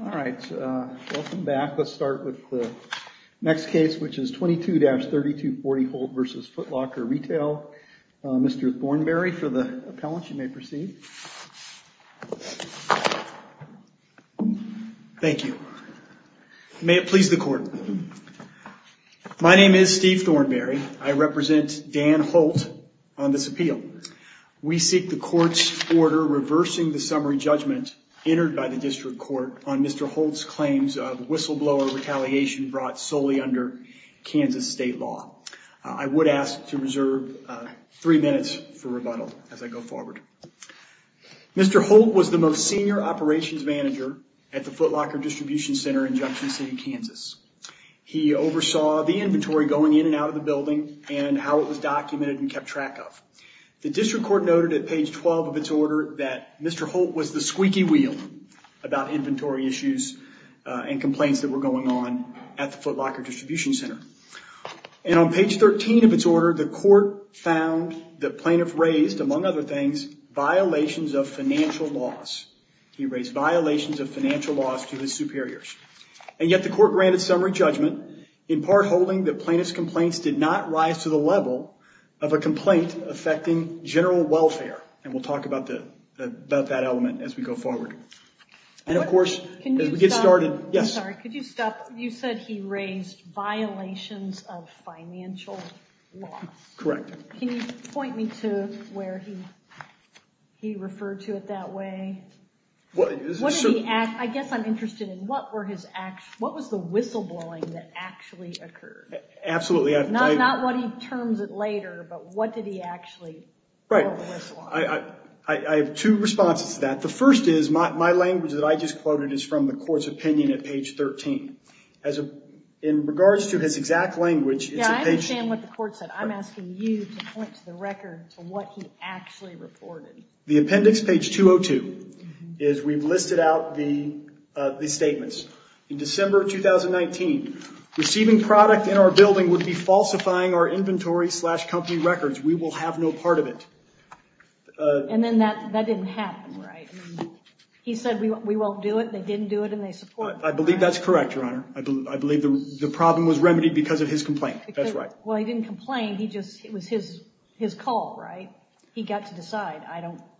All right, welcome back. Let's start with the next case which is 22-3240 Holt v. Foot Locker Retail. Mr. Thornberry for the appellant, you may proceed. Thank you. May it please the court. My name is Steve Thornberry. I represent Dan Holt on this appeal. We seek the court's order reversing the summary judgment entered by the district court on Mr. Holt's claims of whistleblower retaliation brought solely under Kansas state law. I would ask to reserve three minutes for rebuttal as I go forward. Mr. Holt was the most senior operations manager at the Foot Locker Distribution Center in Junction City, Kansas. He oversaw the inventory going in and out of the building and how it was documented and kept track of. The district court noted at page 12 of its order that Mr. Holt was the squeaky wheel about inventory issues and complaints that were going on at the Foot Locker Distribution Center. And on page 13 of its order, the court found the plaintiff raised, among other things, violations of financial laws. He raised violations of financial laws to his superiors. And yet the court granted summary judgment in part holding that plaintiff's complaints did not rise to the level of a complaint affecting general welfare. And we'll talk about that element as we go forward. And of course, as we get started, yes? I'm sorry, could you stop? You said he raised violations of financial laws. Correct. Can you point me to where he referred to it that way? I guess I'm interested in what was the whistleblowing that actually occurred? Absolutely. Not what he terms it later, but what did he actually whistle on? I have two responses to that. The first is my language that I just quoted is from the court's opinion at page 13. In regards to his exact language... Yeah, I understand what the court said. I'm asking you to point to the record to what he actually reported. The appendix, page 202, is we've listed out the statements. In December of 2019, receiving product in our building would be falsifying our inventory slash company records. We will have no part of it. And then that didn't happen, right? He said we won't do it. They didn't do it and they supported it. I believe that's correct, Your Honor. I believe the problem was remedied because of his complaint. That's right. Well, he didn't complain. It was his call, right? He got to decide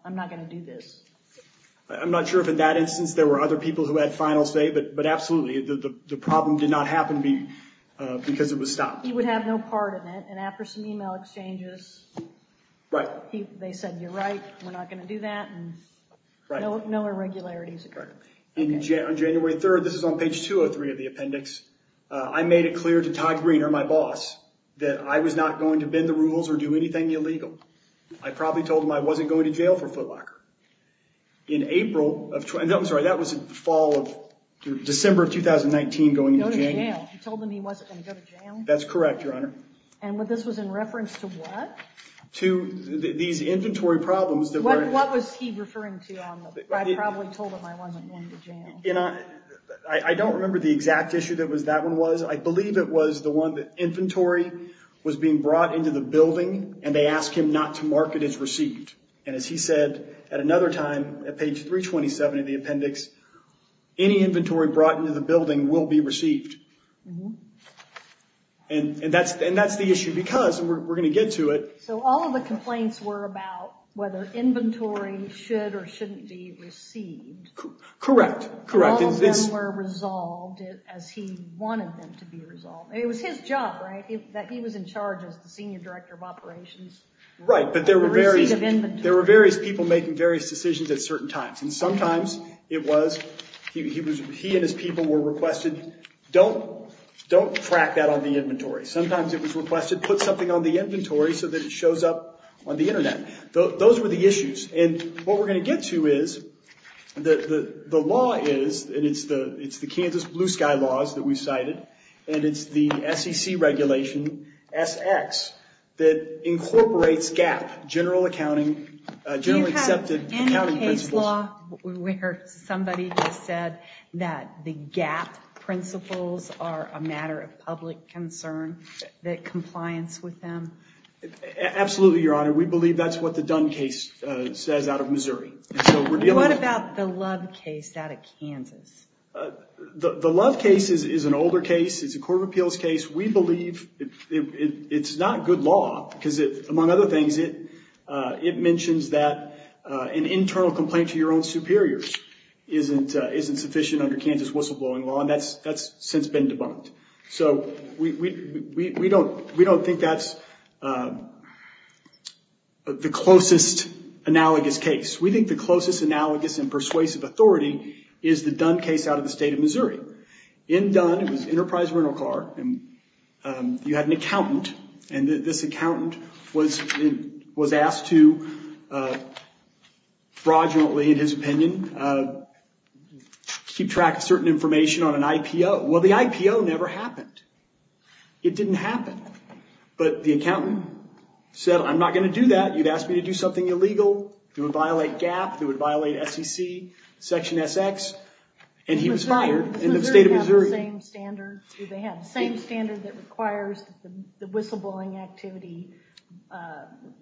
I'm not going to do this. I'm not sure if in that instance there were other people who had final say, but absolutely, the problem did not happen because it was stopped. He would have no part in it and after some email exchanges, they said, you're right, we're not going to do that. No irregularities occurred. On January 3rd, this is on page 203 of the appendix, I made it clear to Todd Greener, my boss, that I was not going to bend the rules or do anything illegal. I probably told him I wasn't going to go to jail. That's correct, Your Honor. And this was in reference to what? To these inventory problems. What was he referring to? I probably told him I wasn't going to jail. I don't remember the exact issue that that one was. I believe it was the one that inventory was being brought into the building and they asked him not to mark it as received. And as he said at another time, at page 327 of the appendix, any inventory brought into the building will be received. And that's the issue because we're going to get to it. So all of the complaints were about whether inventory should or shouldn't be received. Correct. All of them were resolved as he wanted them to be resolved. It was his job, right, that he was in charge as the Senior Director of Operations. Right, but there were various people making various decisions at certain times. And sometimes he and his people were requested, don't track that on the inventory. Sometimes it was requested, put something on the inventory so that it shows up on the internet. Those were the issues. And what we're going to get to is, the law is, and it's the Kansas Blue Sky laws that we cited, and it's the SEC regulation, SX, that incorporates GAAP, General Accounting, General Accepted Accounting Principles. Do you have any case law where somebody just said that the GAAP principles are a matter of public concern, that compliance with them? Absolutely, Your Honor. We believe that's what the Dunn case says out of Missouri. What about the Love case out of Kansas? The Love case is an older case. It's a Court of Appeals case. We believe it's not good law because, among other things, it mentions that an internal complaint to your own superiors isn't sufficient under Kansas whistleblowing law, and that's since been debunked. So we don't think that's the closest analogous case. We think the closest analogous and persuasive authority is the Dunn case out of the state of Missouri. In Dunn, it was Enterprise Rental Car, and you had an accountant, and this accountant was asked to fraudulently, in his opinion, keep track of certain information on an IPO. Well, the IPO never happened. It didn't happen. But the accountant said, I'm not going to do that. You'd ask me to do something illegal that would violate GAAP, that would violate SEC, Section SX, and he was fired in the state of Missouri. Do they have the same standard that requires the whistleblowing activity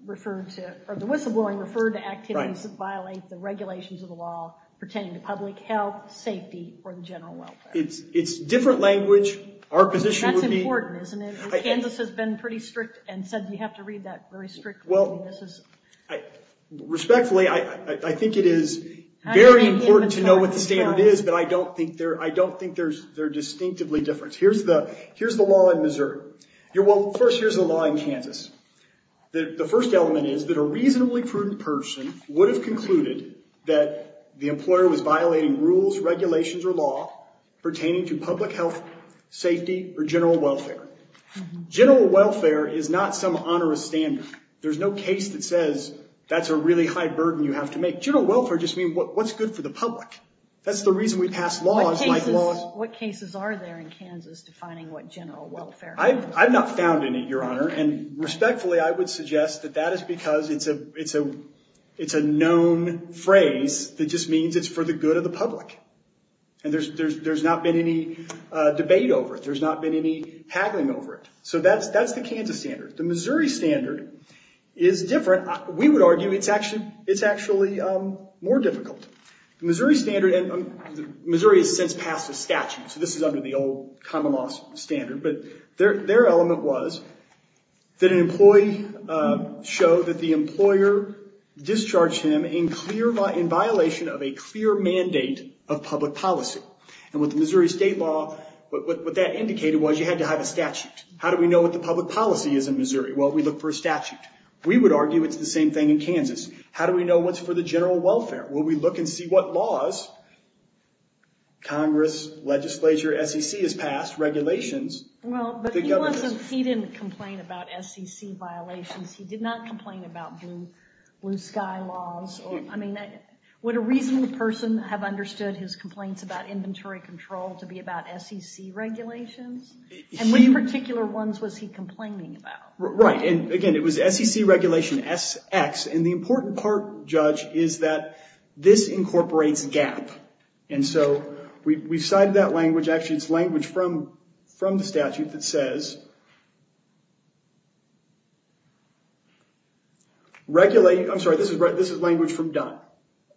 referred to, or the whistleblowing referred to activities that violate the regulations of the law pertaining to public health, safety, or the general welfare? It's different language. Our position would be... That's important, isn't it? Kansas has been pretty strict and said you have to read that well. Respectfully, I think it is very important to know what the standard is, but I don't think they're distinctively different. Here's the law in Missouri. First, here's the law in Kansas. The first element is that a reasonably prudent person would have concluded that the employer was violating rules, regulations, or law pertaining to public health, safety, or general welfare. General welfare is not some onerous standard. There's no case that says that's a really high burden you have to make. General welfare just means what's good for the public. That's the reason we pass laws like laws... What cases are there in Kansas defining what general welfare is? I've not found any, Your Honor. Respectfully, I would suggest that that is because it's a known phrase that just means it's for the good of the public, and there's not been any debate over it. There's not been any over it. That's the Kansas standard. The Missouri standard is different. We would argue it's actually more difficult. The Missouri standard... Missouri has since passed a statute, so this is under the old common law standard, but their element was that an employee show that the employer discharged him in violation of a clear mandate of public policy. With the Missouri state law, what that indicated was you had to have a statute. How do we know what the public policy is in Missouri? Well, we look for a statute. We would argue it's the same thing in Kansas. How do we know what's for the general welfare? Well, we look and see what laws... Congress, legislature, SEC has passed regulations. He didn't complain about SEC violations. He did not complain about blue sky laws. I mean, would a reasonable person have understood his complaints about inventory control to be about SEC regulations? Which particular ones was he complaining about? Right. Again, it was SEC regulation SX, and the important part, Judge, is that this incorporates GAP. We've cited that language. Actually, it's language from the statute that says, I'm sorry, this is language from Dunn.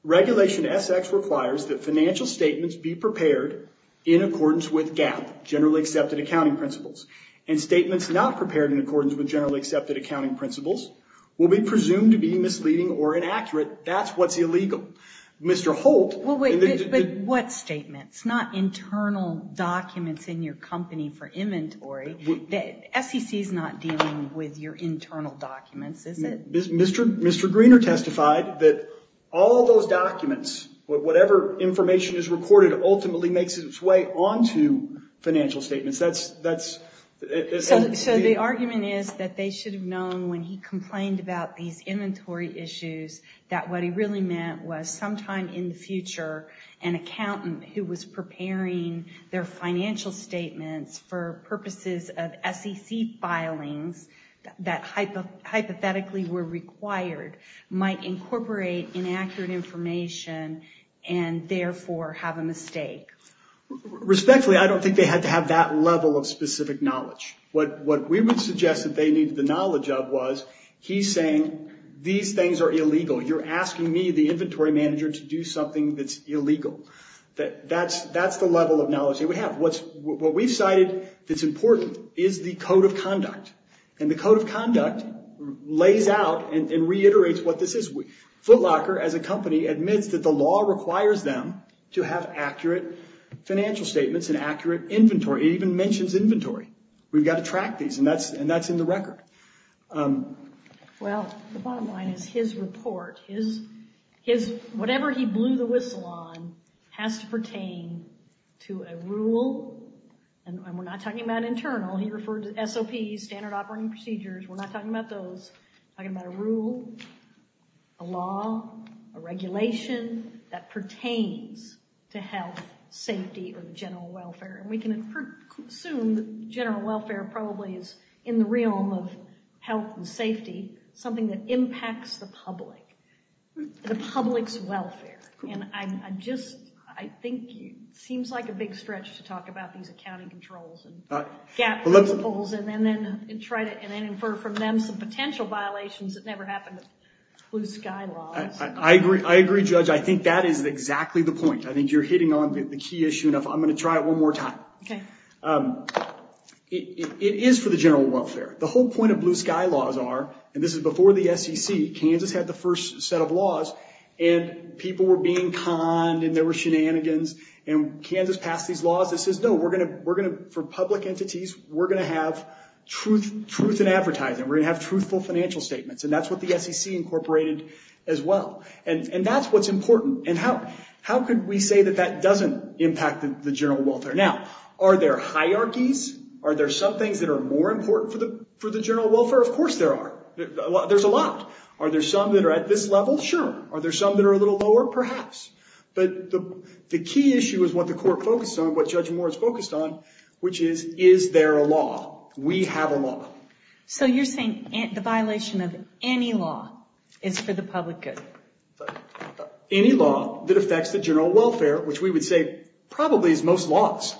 Regulation SX requires that financial statements be prepared in accordance with GAP, generally accepted accounting principles, and statements not prepared in accordance with generally accepted accounting principles will be presumed to be misleading or inaccurate. That's what's illegal. Mr. Holt... SEC's not dealing with your internal documents, is it? Mr. Greener testified that all those documents, whatever information is recorded, ultimately makes its way onto financial statements. So the argument is that they should have known when he complained about these inventory issues that what he really meant was sometime in the future, an accountant who was preparing their financial statements for purposes of SEC filings that hypothetically were required might incorporate inaccurate information and therefore have a mistake. Respectfully, I don't think they had to have that level of specific knowledge. What we would suggest that they needed the knowledge of was, he's saying these things are illegal. You're asking me, the inventory manager, to do something that's illegal. That's the level of knowledge that we have. What we've cited that's important is the code of conduct, and the code of conduct lays out and reiterates what this is. Footlocker, as a company, admits that the law requires them to have accurate financial statements and accurate inventory. It even mentions inventory. We've got to track these, and that's in the record. Well, the bottom line is his report. Whatever he blew the whistle on has to pertain to a rule, and we're not talking about internal. He referred to SOPs, standard operating procedures. We're not talking about those. We're talking about a rule, a law, a regulation that pertains to health, safety, or general welfare. We can assume that general welfare is, in the realm of health and safety, something that impacts the public, the public's welfare. I think it seems like a big stretch to talk about these accounting controls and gap loopholes, and then infer from them some potential violations that never happen with blue sky laws. I agree, Judge. I think that is exactly the point. I think you're hitting on the key issue I'm going to try it one more time. It is for the general welfare. The whole point of blue sky laws are, and this is before the SEC, Kansas had the first set of laws, and people were being conned, and there were shenanigans. Kansas passed these laws that says, no, for public entities, we're going to have truth in advertising. We're going to have truthful financial statements. That's what the SEC incorporated as well. That's what's important. How could we say that that doesn't impact the general welfare? Now, are there hierarchies? Are there some things that are more important for the general welfare? Of course there are. There's a lot. Are there some that are at this level? Sure. Are there some that are a little lower? Perhaps. The key issue is what the court focused on, what Judge Moore is focused on, which is, is there a law? We have a law. So you're saying the violation of any law is for the public good? But any law that affects the general welfare, which we would say probably is most laws.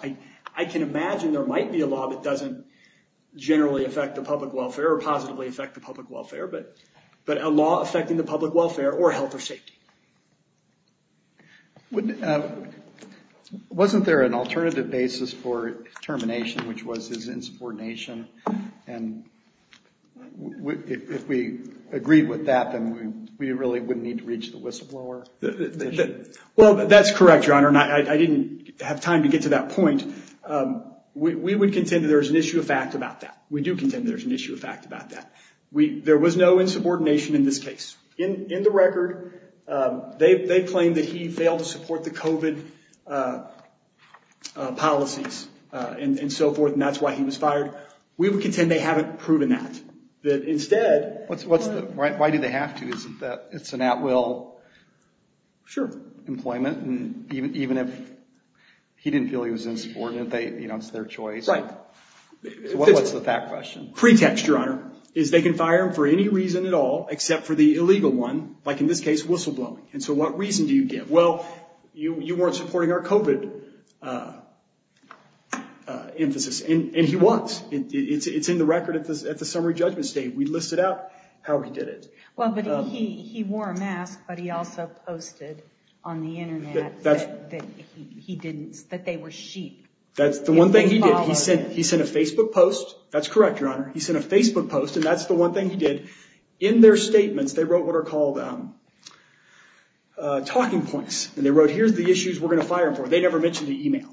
I can imagine there might be a law that doesn't generally affect the public welfare or positively affect the public welfare, but a law affecting the public welfare or health or safety. Wasn't there an alternative basis for termination, which was his insubordination? And if we agreed with that, then we really wouldn't need to reach the whistleblower. Well, that's correct, Your Honor. I didn't have time to get to that point. We would contend that there's an issue of fact about that. We do contend there's an issue of fact about that. There was no insubordination in this case. In the record, they claim that he failed to support the We would contend they haven't proven that. Why do they have to? It's an at-will employment. Even if he didn't feel he was insubordinate, it's their choice. What's the fact question? Pretext, Your Honor, is they can fire him for any reason at all, except for the illegal one, like in this case, whistleblowing. And so what reason do you give? Well, you weren't supporting our COVID emphasis, and he was. It's in the record at the summary judgment state. We listed out how he did it. Well, but he wore a mask, but he also posted on the internet that they were sheep. That's the one thing he did. He sent a Facebook post. That's correct, Your Honor. He sent a Facebook post, and that's the one thing he did. In their statements, they wrote what are called talking points, and they wrote, here's the issues we're going to fire him for. They never mentioned the email,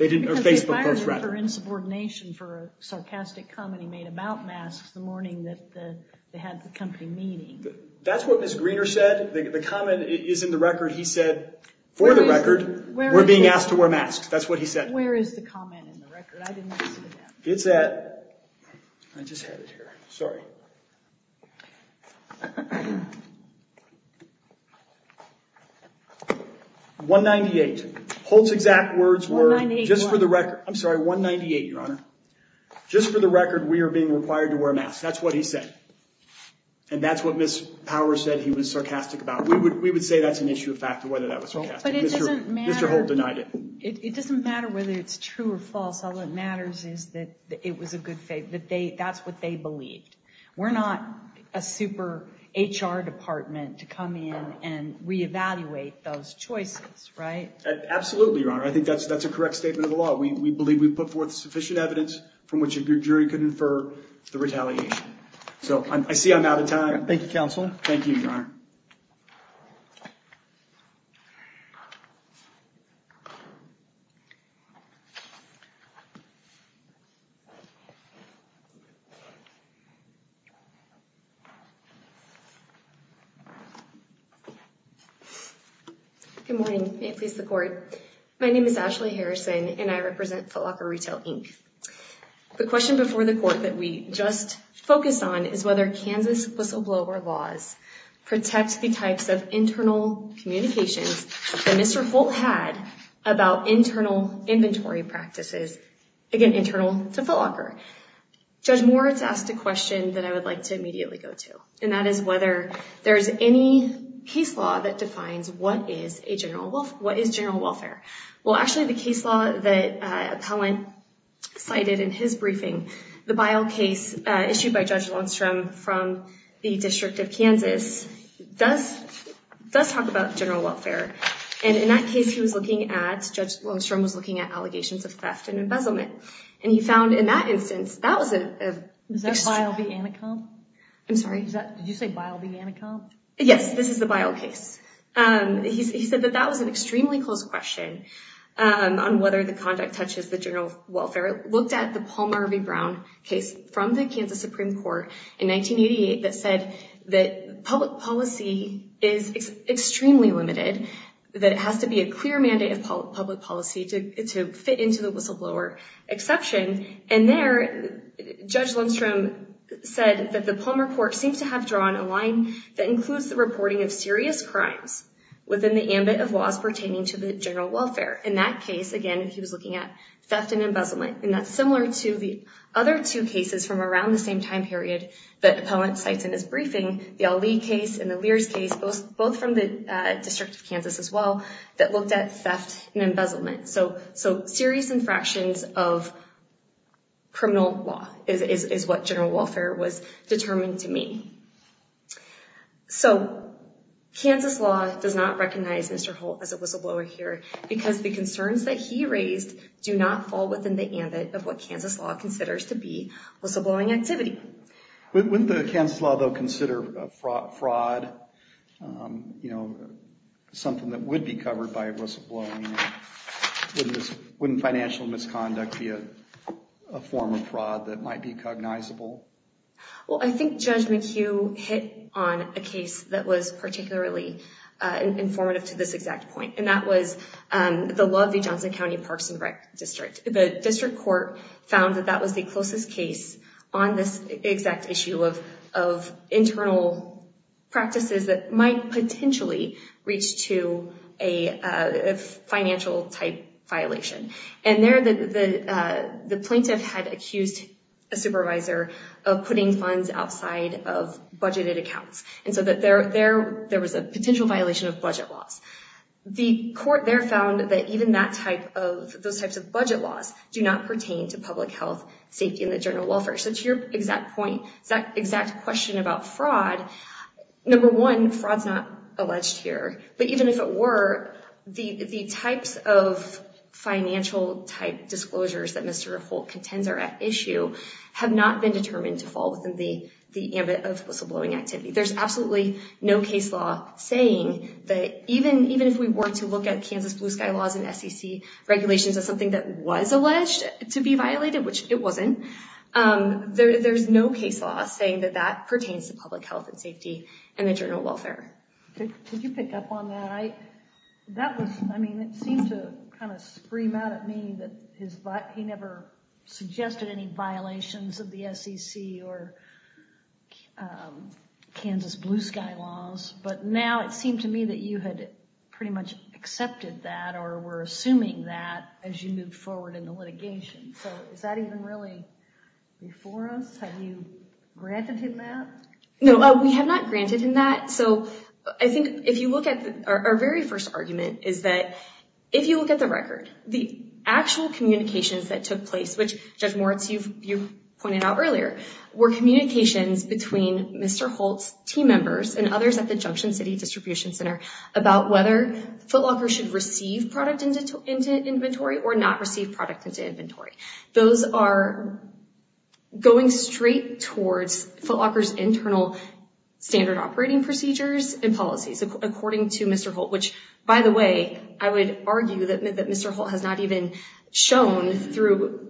or Facebook post, rather. Because they fired him for insubordination, for a sarcastic comment he made about masks the morning that they had the company meeting. That's what Ms. Greener said. The comment is in the record. He said, for the record, we're being asked to wear masks. That's what he said. Where is the comment in the record? I didn't see that. It's at, I just had it here. Sorry. 198. Holt's exact words were, just for the record. I'm sorry, 198, Your Honor. Just for the record, we are being required to wear masks. That's what he said, and that's what Ms. Power said he was sarcastic about. We would say that's an issue of fact, whether that was sarcastic. Mr. Holt denied it. It doesn't matter whether it's true or false. All that matters is that it was a good thing, that that's what they believed. We're not a super HR department to come in and reevaluate those choices, right? Absolutely, Your Honor. I think that's a correct statement of the law. We believe we've put forth sufficient evidence from which a jury could infer the retaliation. I see I'm out of time. Thank you, counsel. Thank you, Your Honor. Good morning. May it please the court. My name is Ashley Harrison, and I represent Foot Locker Retail, Inc. The question before the court that we just focused on is whether Kansas whistleblower laws protect the types of internal communications that Mr. Holt had about internal inventory practices, again, internal to Foot Locker. Judge Moritz asked a question that I would like to immediately go to, and that is whether there's any case law that defines what is general welfare. Well, actually, the case law that appellant cited in his briefing, the Bile case issued by Judge Longstrom from the District of Kansas, does talk about general welfare. And in that case, Judge Longstrom was looking at allegations of theft and embezzlement. And he found in that instance, that was a... Is that Bile v. Anacom? I'm sorry? Did you say Bile v. Anacom? Yes, this is the Bile case. He said that that was an extremely close question on whether the conduct touches the general welfare. Looked at the Palmer v. Brown case from the Kansas Supreme Court in 1988 that said that public policy is extremely limited, that it has to be a clear mandate of public policy to fit into the whistleblower exception. And there, Judge Longstrom said that the Palmer court seems to have drawn a line that includes reporting of serious crimes within the ambit of laws pertaining to the general welfare. In that case, again, he was looking at theft and embezzlement. And that's similar to the other two cases from around the same time period that appellant cites in his briefing, the Ali case and the Lears case, both from the District of Kansas as well, that looked at theft and embezzlement. So serious infractions of criminal law is what general welfare was determined to mean. So, Kansas law does not recognize Mr. Holt as a whistleblower here because the concerns that he raised do not fall within the ambit of what Kansas law considers to be whistleblowing activity. Wouldn't the Kansas law, though, consider fraud, you know, something that would be covered by whistleblowing? Wouldn't financial misconduct be a form of fraud that might be cognizable? Well, I think Judge McHugh hit on a case that was particularly informative to this exact point, and that was the law of the Johnson County Parks and Rec District. The district court found that that was the closest case on this exact issue of internal practices that might potentially reach to a financial type violation. And there, the plaintiff had accused a supervisor of putting funds outside of budgeted accounts, and so there was a potential violation of budget laws. The court there found that even those types of budget laws do not pertain to public health, safety, and the general welfare. So to your exact point, that exact question about fraud, number one, fraud's not alleged here. But even if it were, the types of financial type disclosures that Mr. Holt contends are at issue have not been determined to fall within the ambit of whistleblowing activity. There's absolutely no case law saying that even if we were to look at Kansas blue sky laws and SEC regulations as something that was alleged to be violated, which it wasn't, there's no case law saying that that pertains to public health and safety and internal welfare. Could you pick up on that? That was, I mean, it seemed to kind of scream out at me that he never suggested any violations of the SEC or Kansas blue sky laws, but now it seemed to me that you had pretty much accepted that or were assuming that as you moved forward in the litigation. So is that even really before us? Have you granted him that? No, we have not granted him that. So I think if you look at our very first argument is that if you look at the record, the actual communications that took place, which Judge Moritz, you've pointed out earlier, were communications between Mr. Holt's team members and others at the Junction City Distribution Center about whether Foot Locker should receive product into inventory or not receive product into inventory. Those are going straight towards Foot Locker's internal standard operating procedures and policies, according to Mr. Holt, which, by the way, I would argue that Mr. Holt has not even shown through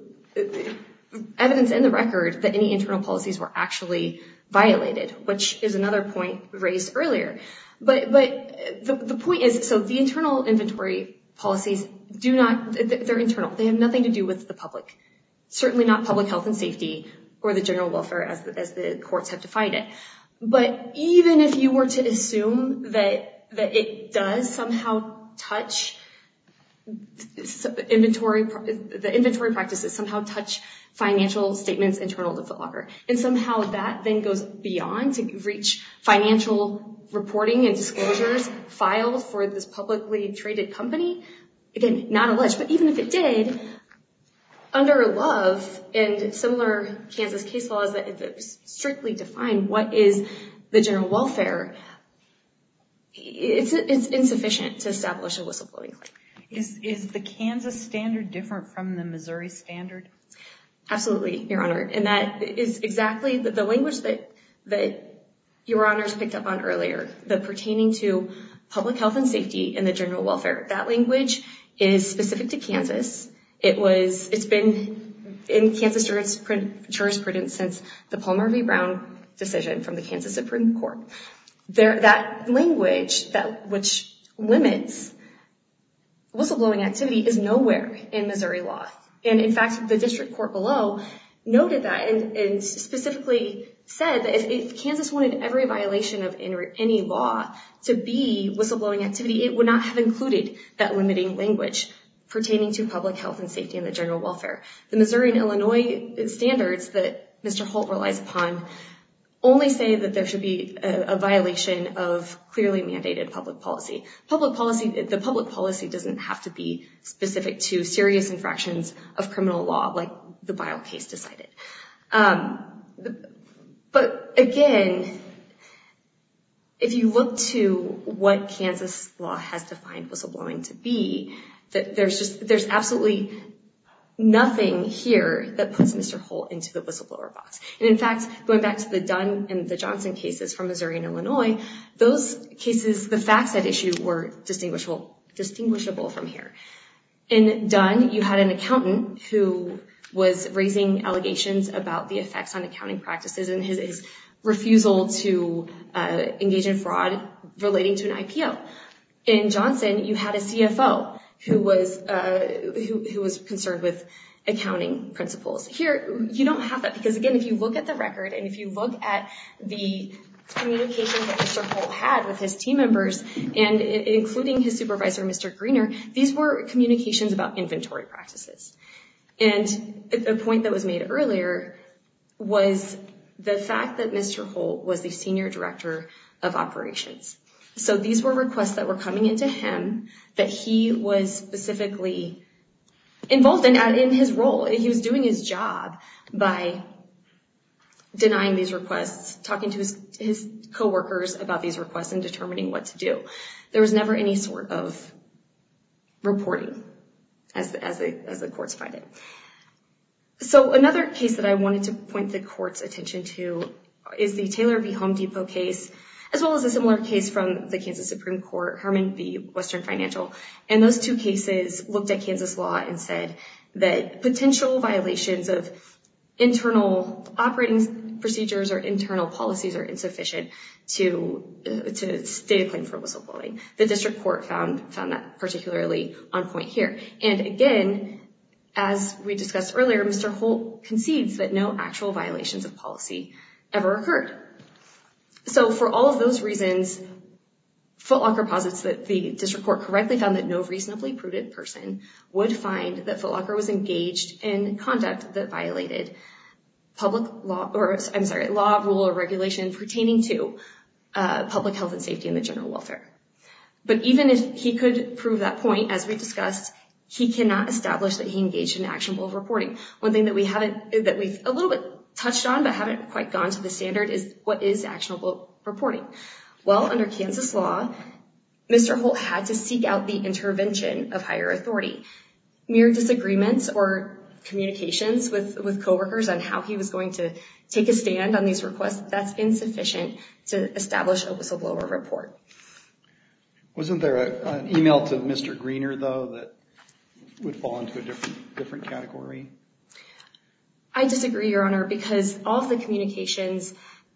evidence in the record that any internal policies were actually violated, which is another point raised earlier. But the point is, so the internal inventory policies do not, they're internal, they have nothing to do with the public, certainly not public If you were to assume that it does somehow touch, the inventory practices somehow touch financial statements internal to Foot Locker and somehow that then goes beyond to reach financial reporting and disclosures filed for this publicly traded company, again, not alleged, but even if it did, under Love and similar Kansas case laws that strictly define what is the general welfare, it's insufficient to establish a whistleblowing claim. Is the Kansas standard different from the Missouri standard? Absolutely, Your Honor, and that is exactly the language that Your Honors picked up on earlier, the pertaining to public health and safety and the general welfare, that language is specific to Kansas. It's been in Kansas jurisprudence since the Palmer v. Brown decision from the Kansas Supreme Court. That language that limits whistleblowing activity is nowhere in Missouri law. And in fact, the district court below noted that and specifically said that if Kansas wanted every violation of any law to be whistleblowing activity, it would not have included that pertaining to public health and safety and the general welfare. The Missouri and Illinois standards that Mr. Holt relies upon only say that there should be a violation of clearly mandated public policy. The public policy doesn't have to be specific to serious infractions of criminal law like the Bile case decided. But again, if you look to what Kansas law has defined whistleblowing to be, there's absolutely nothing here that puts Mr. Holt into the whistleblower box. And in fact, going back to the Dunn and the Johnson cases from Missouri and Illinois, those cases, the facts at issue were distinguishable from here. In Dunn, you had an accountant who was raising allegations about the effects on accounting practices and his refusal to have a CFO who was concerned with accounting principles. Here, you don't have that because again, if you look at the record and if you look at the communication that Mr. Holt had with his team members and including his supervisor, Mr. Greener, these were communications about inventory practices. And a point that was made earlier was the fact that Mr. Holt was the senior director of operations. So these were requests that were coming into him that he was specifically involved in his role. He was doing his job by denying these requests, talking to his co-workers about these requests and determining what to do. There was never any sort of reporting as the courts find it. So another case that I wanted to point the court's attention to is the Taylor v. Home Depot case, as well as a similar case from the Kansas Supreme Court, Herman v. Western Financial. And those two cases looked at Kansas law and said that potential violations of internal operating procedures or internal policies are insufficient to state a claim for whistleblowing. The district court found that particularly on point here. And again, as we discussed earlier, Mr. Holt concedes that no actual violations of policy ever occurred. So for all of those reasons, Footlocker posits that the district court correctly found that no reasonably prudent person would find that Footlocker was engaged in conduct that violated law, rule, or regulation pertaining to public health and safety and the general welfare. But even if he could prove that point, as we discussed, he cannot establish that he engaged in actionable reporting. One thing that we haven't, that we've a little bit touched on, but haven't quite gone to the standard is what is actionable reporting? Well, under Kansas law, Mr. Holt had to seek out the intervention of higher authority. Mere disagreements or communications with co-workers on how he was going to take a stand on these requests, that's insufficient to establish a whistleblower report. Wasn't there an email to Mr. Greener, though, that would fall into a different category? I disagree, Your Honor, because all of the communications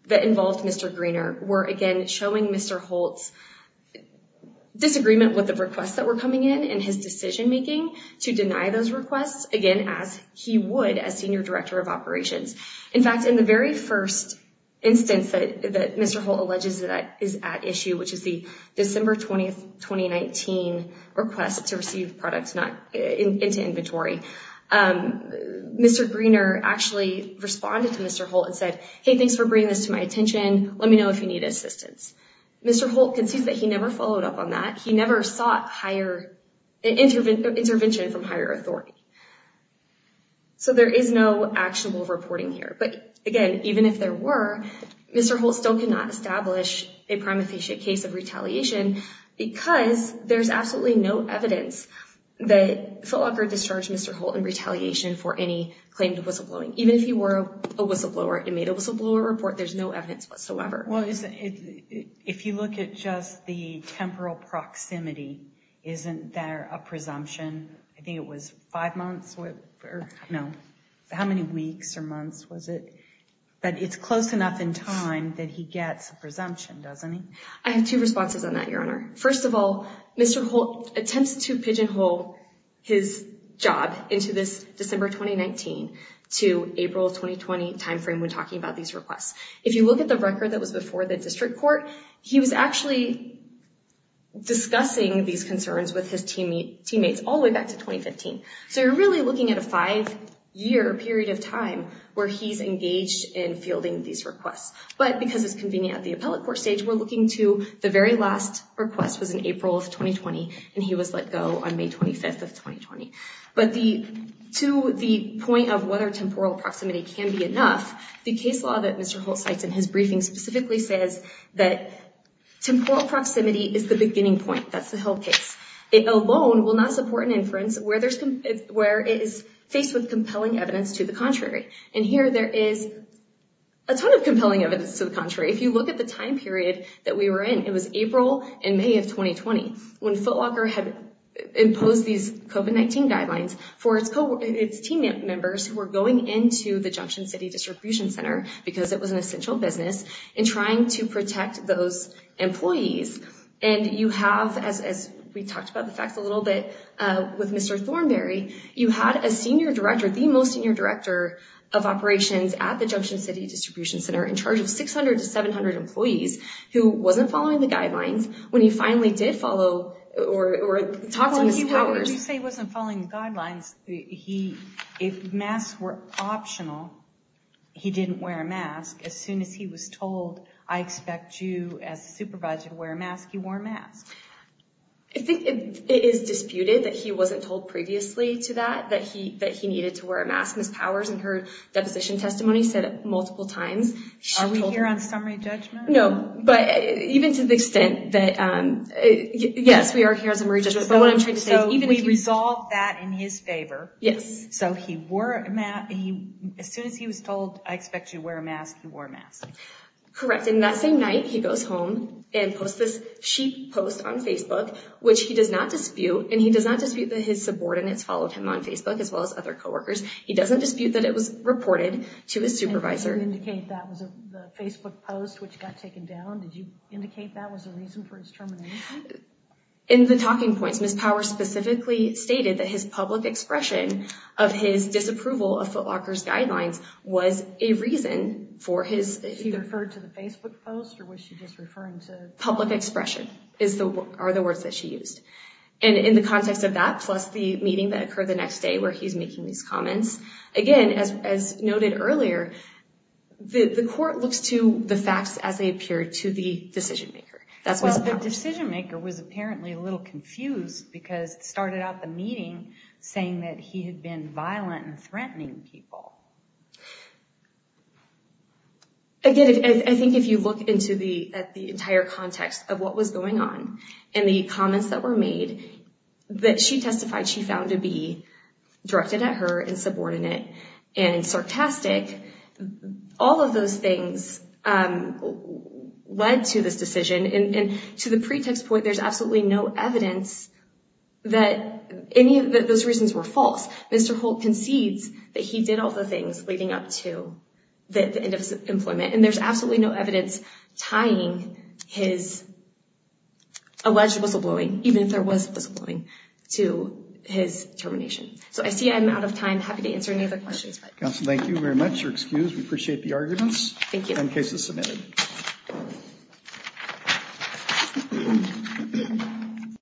that involved Mr. Greener were, again, showing Mr. Holt's disagreement with the requests that were coming in and his decision making to deny those requests, again, as he would as senior director of operations. In fact, in the first instance that Mr. Holt alleges that is at issue, which is the December 20th, 2019 request to receive products into inventory, Mr. Greener actually responded to Mr. Holt and said, hey, thanks for bringing this to my attention. Let me know if you need assistance. Mr. Holt concedes that he never followed up on that. He never sought intervention from higher authority. So there is no actionable reporting here. But again, even if there were, Mr. Holt still cannot establish a prime officiate case of retaliation because there's absolutely no evidence that Ft. Walker discharged Mr. Holt in retaliation for any claim to whistleblowing. Even if he were a whistleblower and made a whistleblower report, there's no evidence whatsoever. If you look at just the temporal proximity, isn't there a presumption? I think it was five months or, no, how many weeks or months was it? But it's close enough in time that he gets a presumption, doesn't he? I have two responses on that, Your Honor. First of all, Mr. Holt attempts to pigeonhole his job into this December 2019 to April 2020 timeframe when talking about these requests. If you look at the record that was before the district court, he was actually discussing these concerns with his teammates all the way back to 2015. So you're really looking at a five-year period of time where he's engaged in fielding these requests. But because it's convenient at the appellate court stage, we're looking to the very last request was in April of 2020, and he was let go on May 25th of 2020. But to the point of whether temporal proximity can be enough, the case law that Mr. Holt the beginning point. That's the whole case. It alone will not support an inference where it is faced with compelling evidence to the contrary. And here there is a ton of compelling evidence to the contrary. If you look at the time period that we were in, it was April and May of 2020 when Footlocker had imposed these COVID-19 guidelines for its team members who were going into the Junction City Distribution Center because it was an essential business in trying to protect those employees. And you have, as we talked about the facts a little bit with Mr. Thornberry, you had a senior director, the most senior director of operations at the Junction City Distribution Center in charge of 600 to 700 employees who wasn't following the guidelines when he finally did follow or talked to Ms. Powers. When you say he wasn't following guidelines, if masks were optional, he didn't wear a mask. As soon as he was told, I expect you as a supervisor to wear a mask, you wore a mask. I think it is disputed that he wasn't told previously to that, that he needed to wear a mask. Ms. Powers in her deposition testimony said it multiple times. Are we here on summary judgment? No, but even to the extent that, yes, we are here in his favor. Yes. So he wore a mask. As soon as he was told, I expect you to wear a mask, you wore a mask. Correct. And that same night he goes home and posts this sheet post on Facebook, which he does not dispute. And he does not dispute that his subordinates followed him on Facebook as well as other coworkers. He doesn't dispute that it was reported to his supervisor. Did you indicate that was a Facebook post which got taken down? Did you indicate that was a reason for his termination? In the talking points, Ms. Powers specifically stated that his public expression of his disapproval of Foot Locker's guidelines was a reason for his... He referred to the Facebook post or was she just referring to... Public expression are the words that she used. And in the context of that, plus the meeting that occurred the next day where he's making these comments, again, as noted earlier, the court looks to the facts as they appear to the decision-maker. Well, the decision-maker was apparently a little confused because it started out the meeting saying that he had been violent and threatening people. Again, I think if you look at the entire context of what was going on and the comments that were made, that she testified she found to be directed at her and all of those things led to this decision. And to the pretext point, there's absolutely no evidence that any of those reasons were false. Mr. Holt concedes that he did all the things leading up to the end of his employment. And there's absolutely no evidence tying his alleged whistleblowing, even if there was a whistleblowing, to his termination. So I see I'm out of time. Happy to answer any other questions. Counsel, thank you very much. You're excused. We appreciate the arguments. Thank you. And case is submitted.